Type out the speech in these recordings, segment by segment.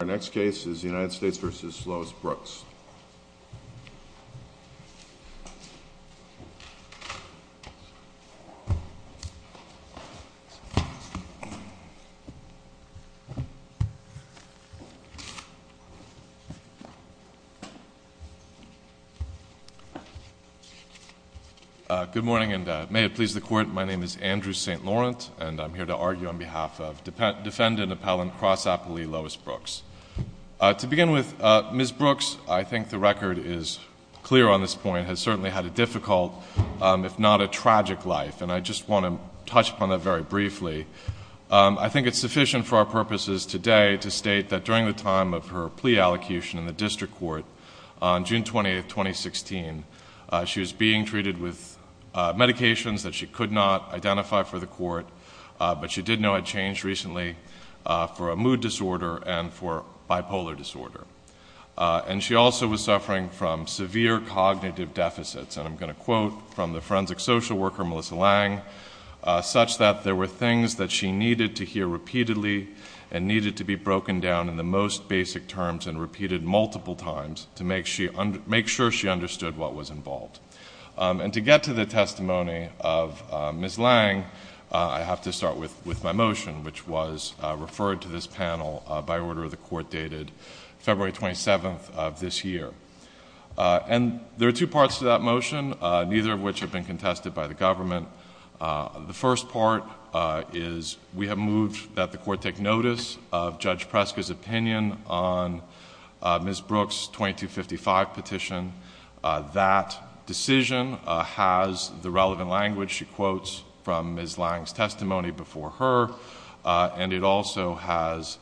Our next case is United States v. Lois Brooks. Good morning, and may it please the Court, my name is Andrew St. Laurent, and I'm here to argue on behalf of Defendant Appellant Cross-Appley Lois Brooks. To begin with, Ms. Brooks, I think the record is clear on this point, has certainly had a difficult, if not a tragic life, and I just want to touch upon that very briefly. I think it's sufficient for our purposes today to state that during the time of her plea allocution in the District Court on June 20, 2016, she was being treated with medications that she could not identify for the Court, but she did know had changed recently for a mood disorder and for bipolar disorder. And she also was suffering from severe cognitive deficits, and I'm going to quote from the forensic social worker Melissa Lang, such that there were things that she needed to hear repeatedly and needed to be broken down in the most basic terms and repeated multiple times to make sure she understood what was involved. And to get to the testimony of Ms. Lang, I have to start with my motion, which was referred to this panel by order of the Court dated February 27th of this year. And there are two parts to that motion, neither of which have been contested by the government. The first part is we have moved that the Court take notice of Judge Preska's opinion on Ms. Brooks' 2255 petition. That decision has the relevant language she quotes from Ms. Lang's testimony before her, and it also has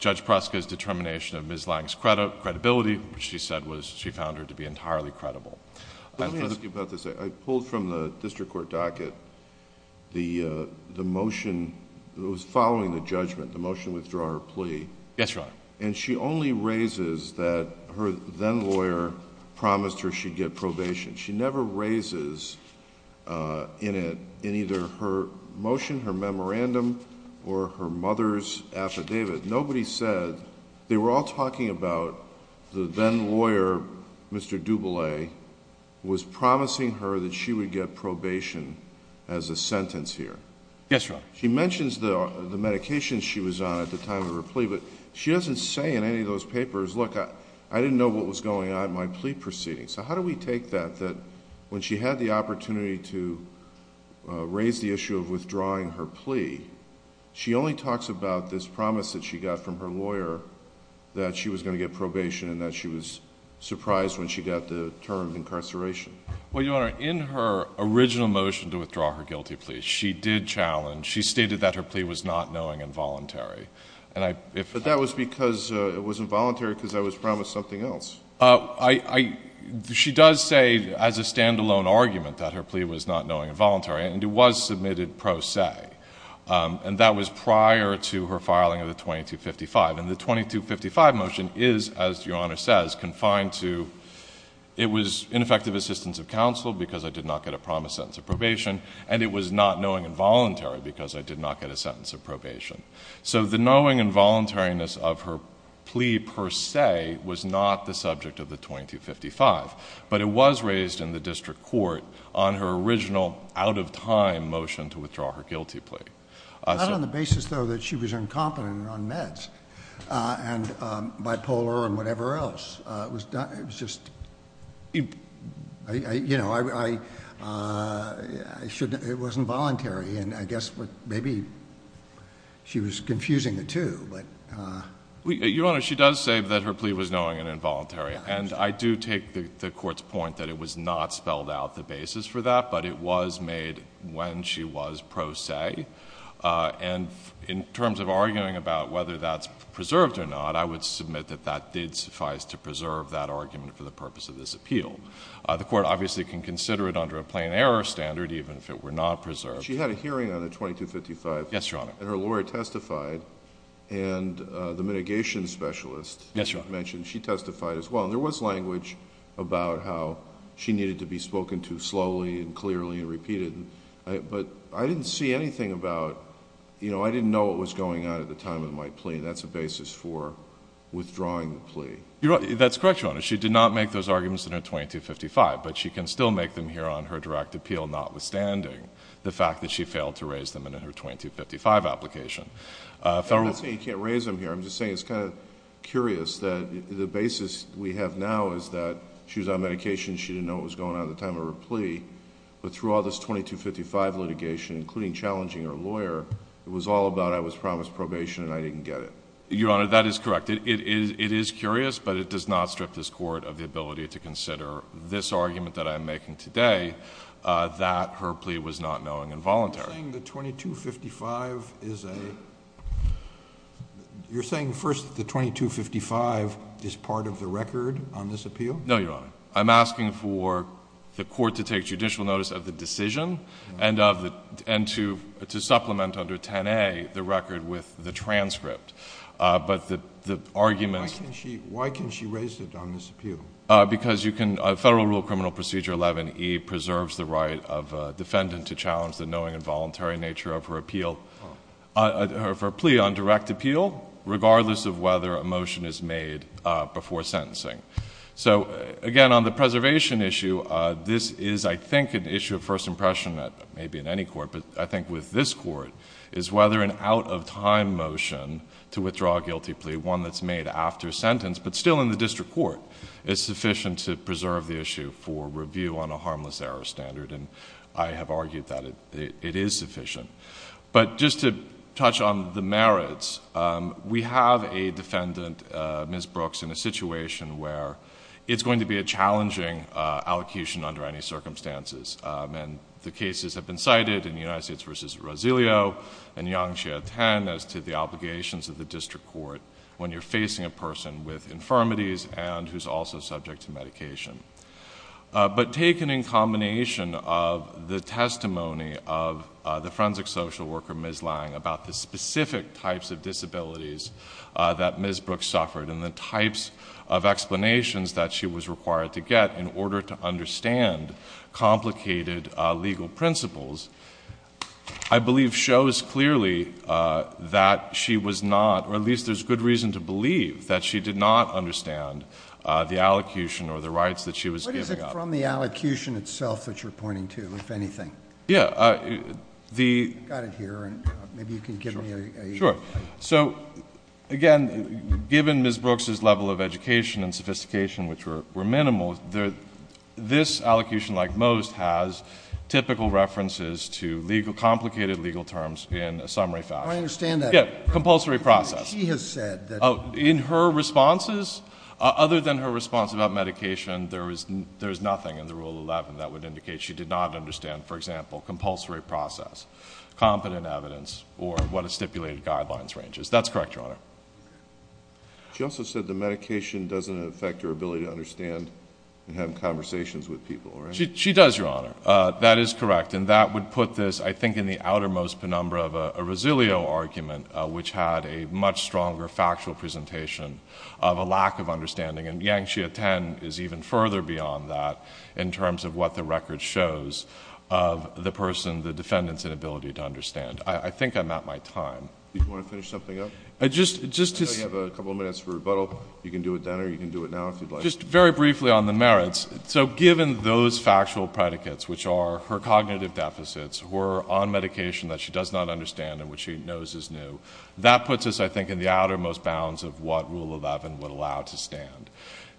Judge Preska's determination of Ms. Lang's credibility, which she said was she found her to be entirely credible. Let me ask you about this. I pulled from the District Court docket the motion that was following the judgment, the motion to withdraw her plea. Yes, Your Honor. And she only raises that her then lawyer promised her she'd get probation. She never raises in it, in either her motion, her memorandum, or her mother's affidavit. Nobody said, they were all talking about the then lawyer, Mr. Duboulay, was promising her that she would get probation as a sentence here. Yes, Your Honor. She mentions the medications she was on at the time of her plea, but she doesn't say in any of those papers, look, I didn't know what was going on in my plea proceedings. So how do we take that, that when she had the opportunity to raise the issue of withdrawing her plea, she only talks about this promise that she got from her lawyer that she was going to get probation and that she was surprised when she got the term of incarceration. Well, Your Honor, in her original motion to withdraw her guilty plea, she did challenge, she stated that her plea was not knowing and voluntary. But that was because it was involuntary because I was promised something else. She does say, as a standalone argument, that her plea was not knowing and voluntary, and it was submitted pro se. And that was prior to her filing of the 2255. And the 2255 motion is, as Your Honor says, confined to, it was ineffective assistance of counsel because I did not get a promised sentence of probation, and it was not knowing and voluntary because I did not get a sentence of probation. So the knowing and voluntariness of her plea per se was not the subject of the 2255. But it was raised in the district court on her original out-of-time motion to withdraw her guilty plea. Not on the basis, though, that she was incompetent on meds and bipolar and whatever else. It was just, you know, it was involuntary. And I guess maybe she was confusing the two. Your Honor, she does say that her plea was knowing and involuntary. And I do take the Court's point that it was not spelled out the basis for that, but it was made when she was pro se. And in terms of arguing about whether that's preserved or not, I would submit that that did suffice to preserve that argument for the purpose of this appeal. The Court obviously can consider it under a plain error standard, even if it were not preserved. She had a hearing on the 2255. Yes, Your Honor. And her lawyer testified, and the mitigation specialist mentioned she testified as well. And there was language about how she needed to be spoken to slowly and clearly and repeated. But I didn't see anything about, you know, I didn't know what was going on at the time of my plea. And that's a basis for withdrawing the plea. That's correct, Your Honor. She did not make those arguments in her 2255. But she can still make them here on her direct appeal, notwithstanding the fact that she failed to raise them in her 2255 application. I'm not saying you can't raise them here. I'm just saying it's kind of curious that the basis we have now is that she was on medication. She didn't know what was going on at the time of her plea. But throughout this 2255 litigation, including challenging her lawyer, it was all about I was promised probation and I didn't get it. Your Honor, that is correct. It is curious, but it does not strip this Court of the ability to consider this argument that I'm making today, that her plea was not knowing and voluntary. You're saying the 2255 is a—you're saying, first, the 2255 is part of the record on this appeal? No, Your Honor. I'm asking for the Court to take judicial notice of the decision and to supplement under 10A the record with the transcript. But the argument— Why can't she raise it on this appeal? Because you can—Federal Rule of Criminal Procedure 11E preserves the right of a defendant to challenge the knowing and voluntary nature of her appeal—of her plea on direct appeal, regardless of whether a motion is made before sentencing. So, again, on the preservation issue, this is, I think, an issue of first impression, maybe in any court, but I think with this Court, is whether an out-of-time motion to withdraw a guilty plea, one that's made after sentence, but still in the district court, is sufficient to preserve the issue for review on a harmless error standard. And I have argued that it is sufficient. But just to touch on the merits, we have a defendant, Ms. Brooks, in a situation where it's going to be a challenging allocation under any circumstances. And the cases have been cited in United States v. Rosilio and Yang Jie Teng as to the obligations of the district court when you're facing a person with infirmities and who's also subject to medication. But taken in combination of the testimony of the forensic social worker, Ms. Lange, about the specific types of disabilities that Ms. Brooks suffered and the types of explanations that she was required to get in order to understand complicated legal principles, I believe shows clearly that she was not, or at least there's good reason to believe, that she did not understand the allocution or the rights that she was giving up. What is it from the allocution itself that you're pointing to, if anything? Yeah. I've got it here, and maybe you can give me a... Sure. So, again, given Ms. Brooks' level of education and sophistication, which were minimal, this allocation, like most, has typical references to complicated legal terms in a summary fashion. I understand that. Yeah, compulsory process. She has said that... In her responses, other than her response about medication, there's nothing in the Rule 11 that would indicate she did not understand, for example, compulsory process, competent evidence, or what a stipulated guidelines range is. That's correct, Your Honor. She also said the medication doesn't affect her ability to understand and have conversations with people, right? She does, Your Honor. That is correct, and that would put this, I think, in the outermost penumbra of a Resilio argument, which had a much stronger factual presentation of a lack of understanding. And Yangxia 10 is even further beyond that in terms of what the record shows of the person, the defendant's inability to understand. I think I'm at my time. Do you want to finish something up? Just to... I know you have a couple of minutes for rebuttal. You can do it then, or you can do it now, if you'd like. Just very briefly on the merits. So given those factual predicates, which are her cognitive deficits, were on medication that she does not understand and which she knows is new, that puts us, I think, in the outermost bounds of what Rule 11 would allow to stand.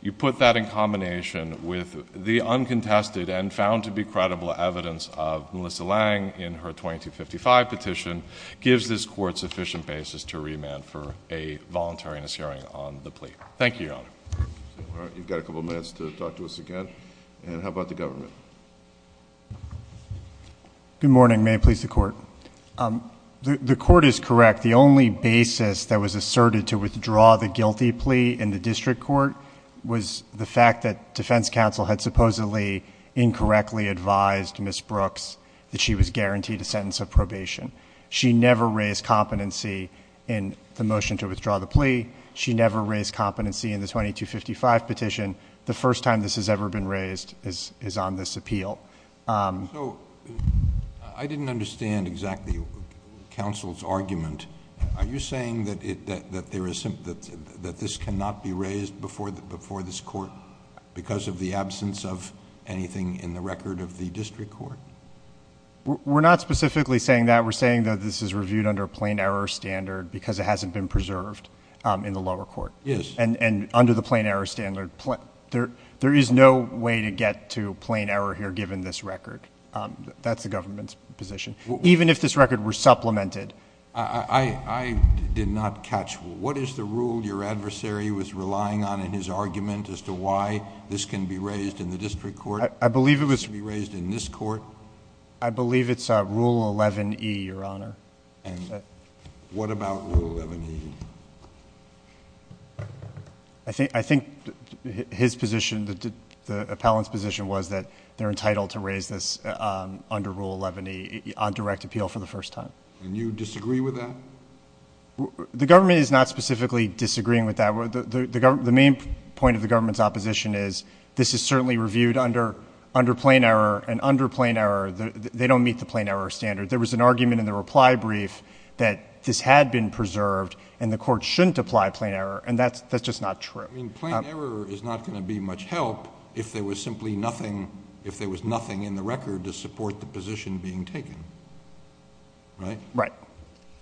You put that in combination with the uncontested and found-to-be-credible evidence of Melissa Lang in her 2255 petition, gives this Court sufficient basis to remand for a voluntariness hearing on the plea. Thank you, Your Honor. All right, you've got a couple of minutes to talk to us again. And how about the government? Good morning. May it please the Court. The Court is correct. The only basis that was asserted to withdraw the guilty plea in the district court was the fact that defense counsel had supposedly incorrectly advised Ms. Brooks that she was guaranteed a sentence of probation. She never raised competency in the motion to withdraw the plea. She never raised competency in the 2255 petition. The first time this has ever been raised is on this appeal. So I didn't understand exactly counsel's argument. Are you saying that this cannot be raised before this Court because of the absence of anything in the record of the district court? We're not specifically saying that. We're saying that this is reviewed under a plain error standard because it hasn't been preserved in the lower court. Yes. And under the plain error standard, there is no way to get to plain error here given this record. That's the government's position. Even if this record were supplemented. I did not catch. What is the rule your adversary was relying on in his argument as to why this can be raised in the district court? I believe it was... Can it be raised in this court? I believe it's Rule 11E, Your Honor. And what about Rule 11E? I think his position, the appellant's position, was that they're entitled to raise this under Rule 11E on direct appeal for the first time. And you disagree with that? The government is not specifically disagreeing with that. The main point of the government's opposition is this is certainly reviewed under plain error, and under plain error, they don't meet the plain error standard. There was an argument in the reply brief that this had been preserved and the court shouldn't apply plain error, and that's just not true. Plain error is not going to be much help if there was simply nothing in the record to support the position being taken, right? Right.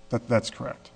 That's correct.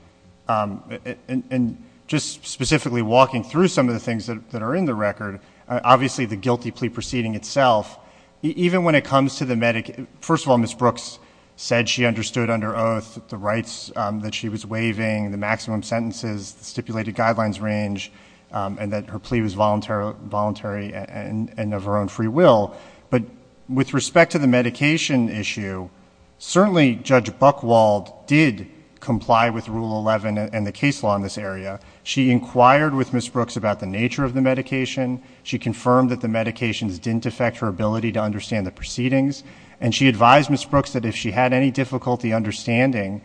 And just specifically walking through some of the things that are in the record, obviously the guilty plea proceeding itself, even when it comes to the... First of all, Ms. Brooks said she understood under oath the rights that she was waiving, the maximum sentences, the stipulated guidelines range, and that her plea was voluntary and of her own free will. But with respect to the medication issue, certainly Judge Buchwald did comply with Rule 11 and the case law in this area. She inquired with Ms. Brooks about the nature of the medication. She confirmed that the medications didn't affect her ability to understand the proceedings. And she advised Ms. Brooks that if she had any difficulty understanding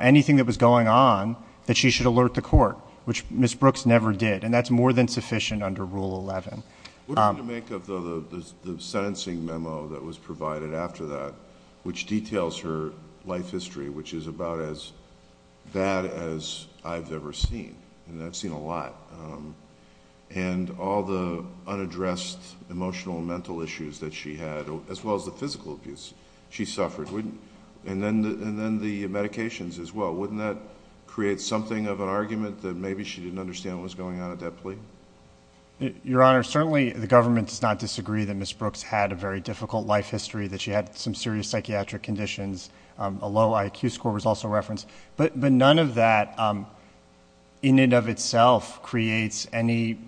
anything that was going on, that she should alert the court, which Ms. Brooks never did. And that's more than sufficient under Rule 11. What do you make of the sentencing memo that was provided after that, which details her life history, which is about as bad as I've ever seen? And I've seen a lot. And all the unaddressed emotional and mental issues that she had, as well as the physical abuse she suffered. And then the medications as well. Wouldn't that create something of an argument that maybe she didn't understand what was going on at that plea? Your Honor, certainly the government does not disagree that Ms. Brooks had a very difficult life history, that she had some serious psychiatric conditions. A low IQ score was also referenced. But none of that, in and of itself, creates any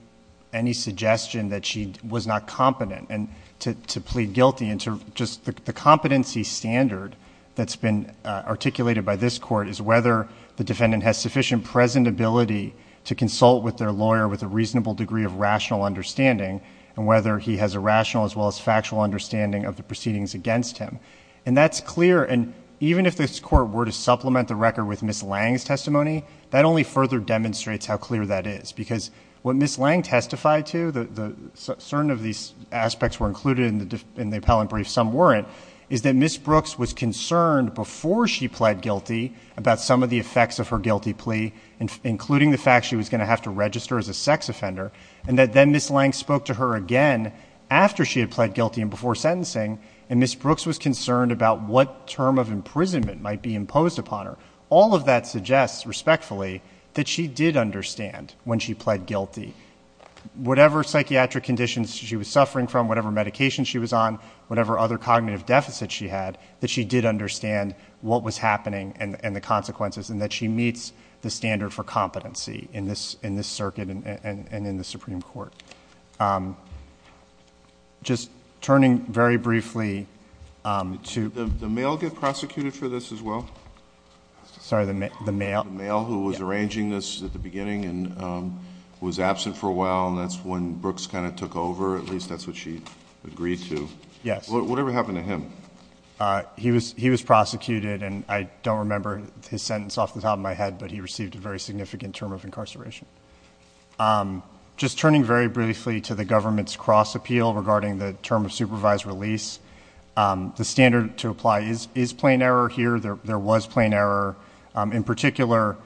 suggestion that she was not competent to plead guilty. The competency standard that's been articulated by this court is whether the defendant has sufficient present ability to consult with their lawyer with a reasonable degree of rational understanding. And whether he has a rational as well as factual understanding of the proceedings against him. And that's clear. And even if this court were to supplement the record with Ms. Lange's testimony, that only further demonstrates how clear that is. Because what Ms. Lange testified to, certain of these aspects were included in the appellant brief, some weren't. Is that Ms. Brooks was concerned before she pled guilty about some of the effects of her guilty plea. Including the fact she was going to have to register as a sex offender. And that then Ms. Lange spoke to her again after she had pled guilty and before sentencing. And Ms. Brooks was concerned about what term of imprisonment might be imposed upon her. All of that suggests, respectfully, that she did understand when she pled guilty. Whatever psychiatric conditions she was suffering from, whatever medication she was on, whatever other cognitive deficit she had. That she did understand what was happening and the consequences. And that she meets the standard for competency in this circuit and in the Supreme Court. Just turning very briefly to. Did the male get prosecuted for this as well? Sorry, the male? The male who was arranging this at the beginning and was absent for a while. And that's when Brooks kind of took over. At least that's what she agreed to. Yes. Whatever happened to him? He was prosecuted. And I don't remember his sentence off the top of my head. But he received a very significant term of incarceration. Just turning very briefly to the government's cross appeal regarding the term of supervised release. The standard to apply is plain error here. There was plain error. In particular,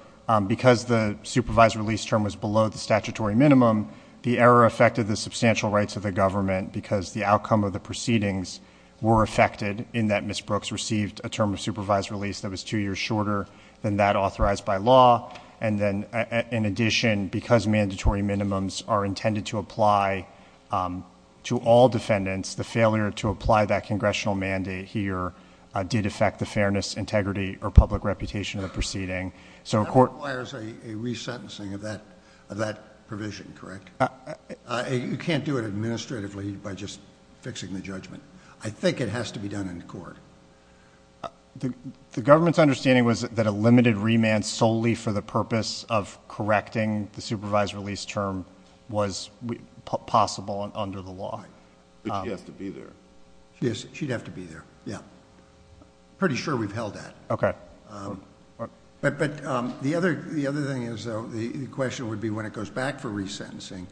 because the supervised release term was below the statutory minimum. The error affected the substantial rights of the government. Because the outcome of the proceedings were affected. In that Ms. Brooks received a term of supervised release that was two years shorter than that authorized by law. In addition, because mandatory minimums are intended to apply to all defendants, the failure to apply that congressional mandate here did affect the fairness, integrity, or public reputation of the proceeding. That requires a resentencing of that provision, correct? You can't do it administratively by just fixing the judgment. The government's understanding was that a limited remand solely for the purpose of correcting the supervised release term was possible under the law. But she has to be there. She'd have to be there. Yeah. Pretty sure we've held that. Okay. But the other thing is the question would be when it goes back for resentencing,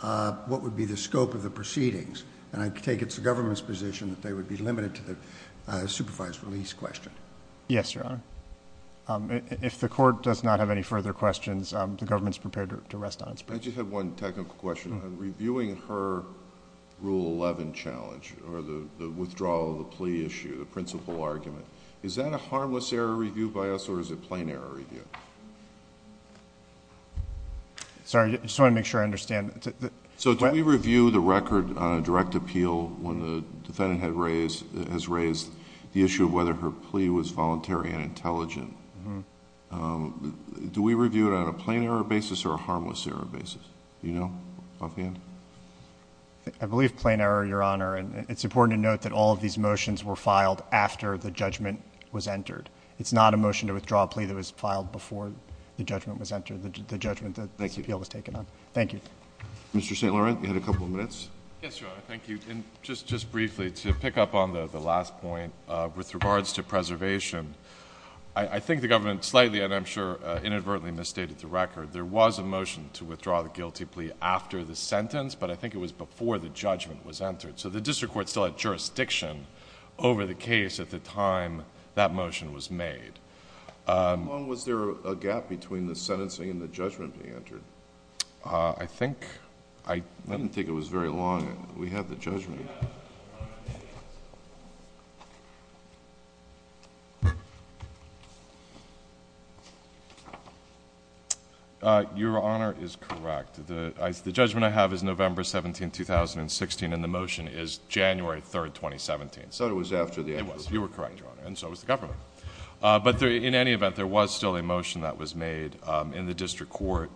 what would be the scope of the proceedings? And I take it it's the government's position that they would be limited to the supervised release question. Yes, Your Honor. If the court does not have any further questions, the government's prepared to rest on its purse. I just have one technical question. Reviewing her Rule 11 challenge or the withdrawal of the plea issue, the principal argument, is that a harmless error review by us or is it plain error review? Sorry. I just want to make sure I understand. So do we review the record on a direct appeal when the defendant has raised the issue of whether her plea was voluntary and intelligent? Do we review it on a plain error basis or a harmless error basis? Do you know offhand? I believe plain error, Your Honor. And it's important to note that all of these motions were filed after the judgment was entered. It's not a motion to withdraw a plea that was filed before the judgment was entered, the judgment that the appeal was taken on. Thank you. Mr. St. Laurent, you had a couple of minutes. Yes, Your Honor. Thank you. And just briefly, to pick up on the last point, with regards to preservation, I think the government slightly, and I'm sure inadvertently, misstated the record. There was a motion to withdraw the guilty plea after the sentence, but I think it was before the judgment was entered. So the district court still had jurisdiction over the case at the time that motion was made. How long was there a gap between the sentencing and the judgment being entered? I think I... I didn't think it was very long. We have the judgment. Your Honor is correct. The judgment I have is November 17, 2016, and the motion is January 3, 2017. So it was after the... It was. You were correct, Your Honor. And so it was the government. But in any event, there was still a motion that was made in the district court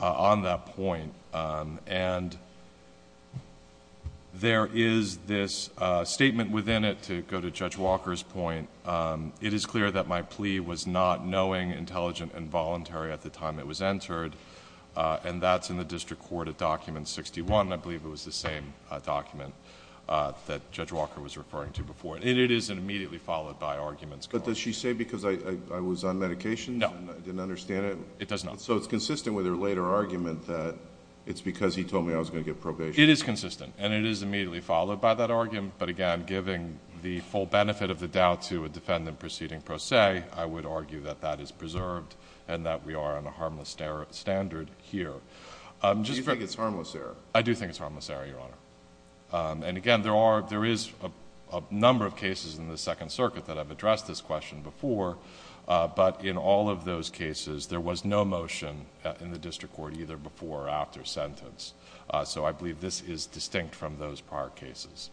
on that point. And there is this statement within it, to go to Judge Walker's point, it is clear that my plea was not knowing, intelligent, and voluntary at the time it was entered. And that's in the district court at Document 61. I believe it was the same document that Judge Walker was referring to before. And it is immediately followed by arguments. But does she say, because I was on medication... No.... and I didn't understand it? It does not. So it's consistent with her later argument that it's because he told me I was going to get probation. It is consistent, and it is immediately followed by that argument. But again, giving the full benefit of the doubt to a defendant proceeding pro se, I would argue that that is preserved and that we are on a harmless standard here. Do you think it's harmless error? I do think it's harmless error, Your Honor. And again, there is a number of cases in the Second Circuit that have addressed this question before. But in all of those cases, there was no motion in the district court, either before or after sentence. So I believe this is distinct from those prior cases.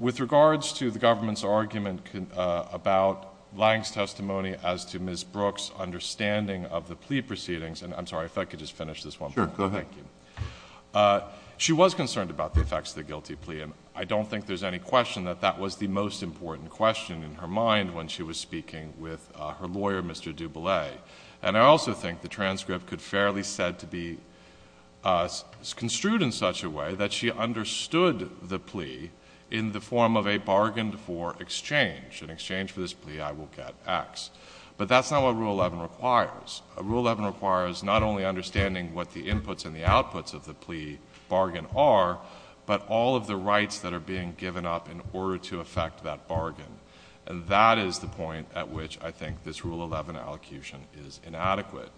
With regards to the government's argument about Lange's testimony as to Ms. Brooks' understanding of the plea proceedings... I'm sorry, if I could just finish this one. Sure, go ahead. Thank you. She was concerned about the effects of the guilty plea, and I don't think there's any question that that was the most important question in her mind... when she was speaking with her lawyer, Mr. Dubele. And, I also think the transcript could fairly said to be construed in such a way that she understood the plea... in the form of a bargain for exchange. In exchange for this plea, I will get X. But, that's not what Rule 11 requires. Rule 11 requires not only understanding what the inputs and the outputs of the plea bargain are... but, all of the rights that are being given up in order to affect that bargain. And, that is the point at which I think this Rule 11 allocution is inadequate.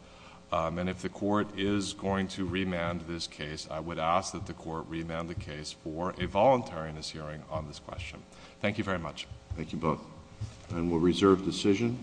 And, if the court is going to remand this case, I would ask that the court remand the case for a voluntariness hearing on this question. Thank you very much. Thank you both. And, we'll reserve decision.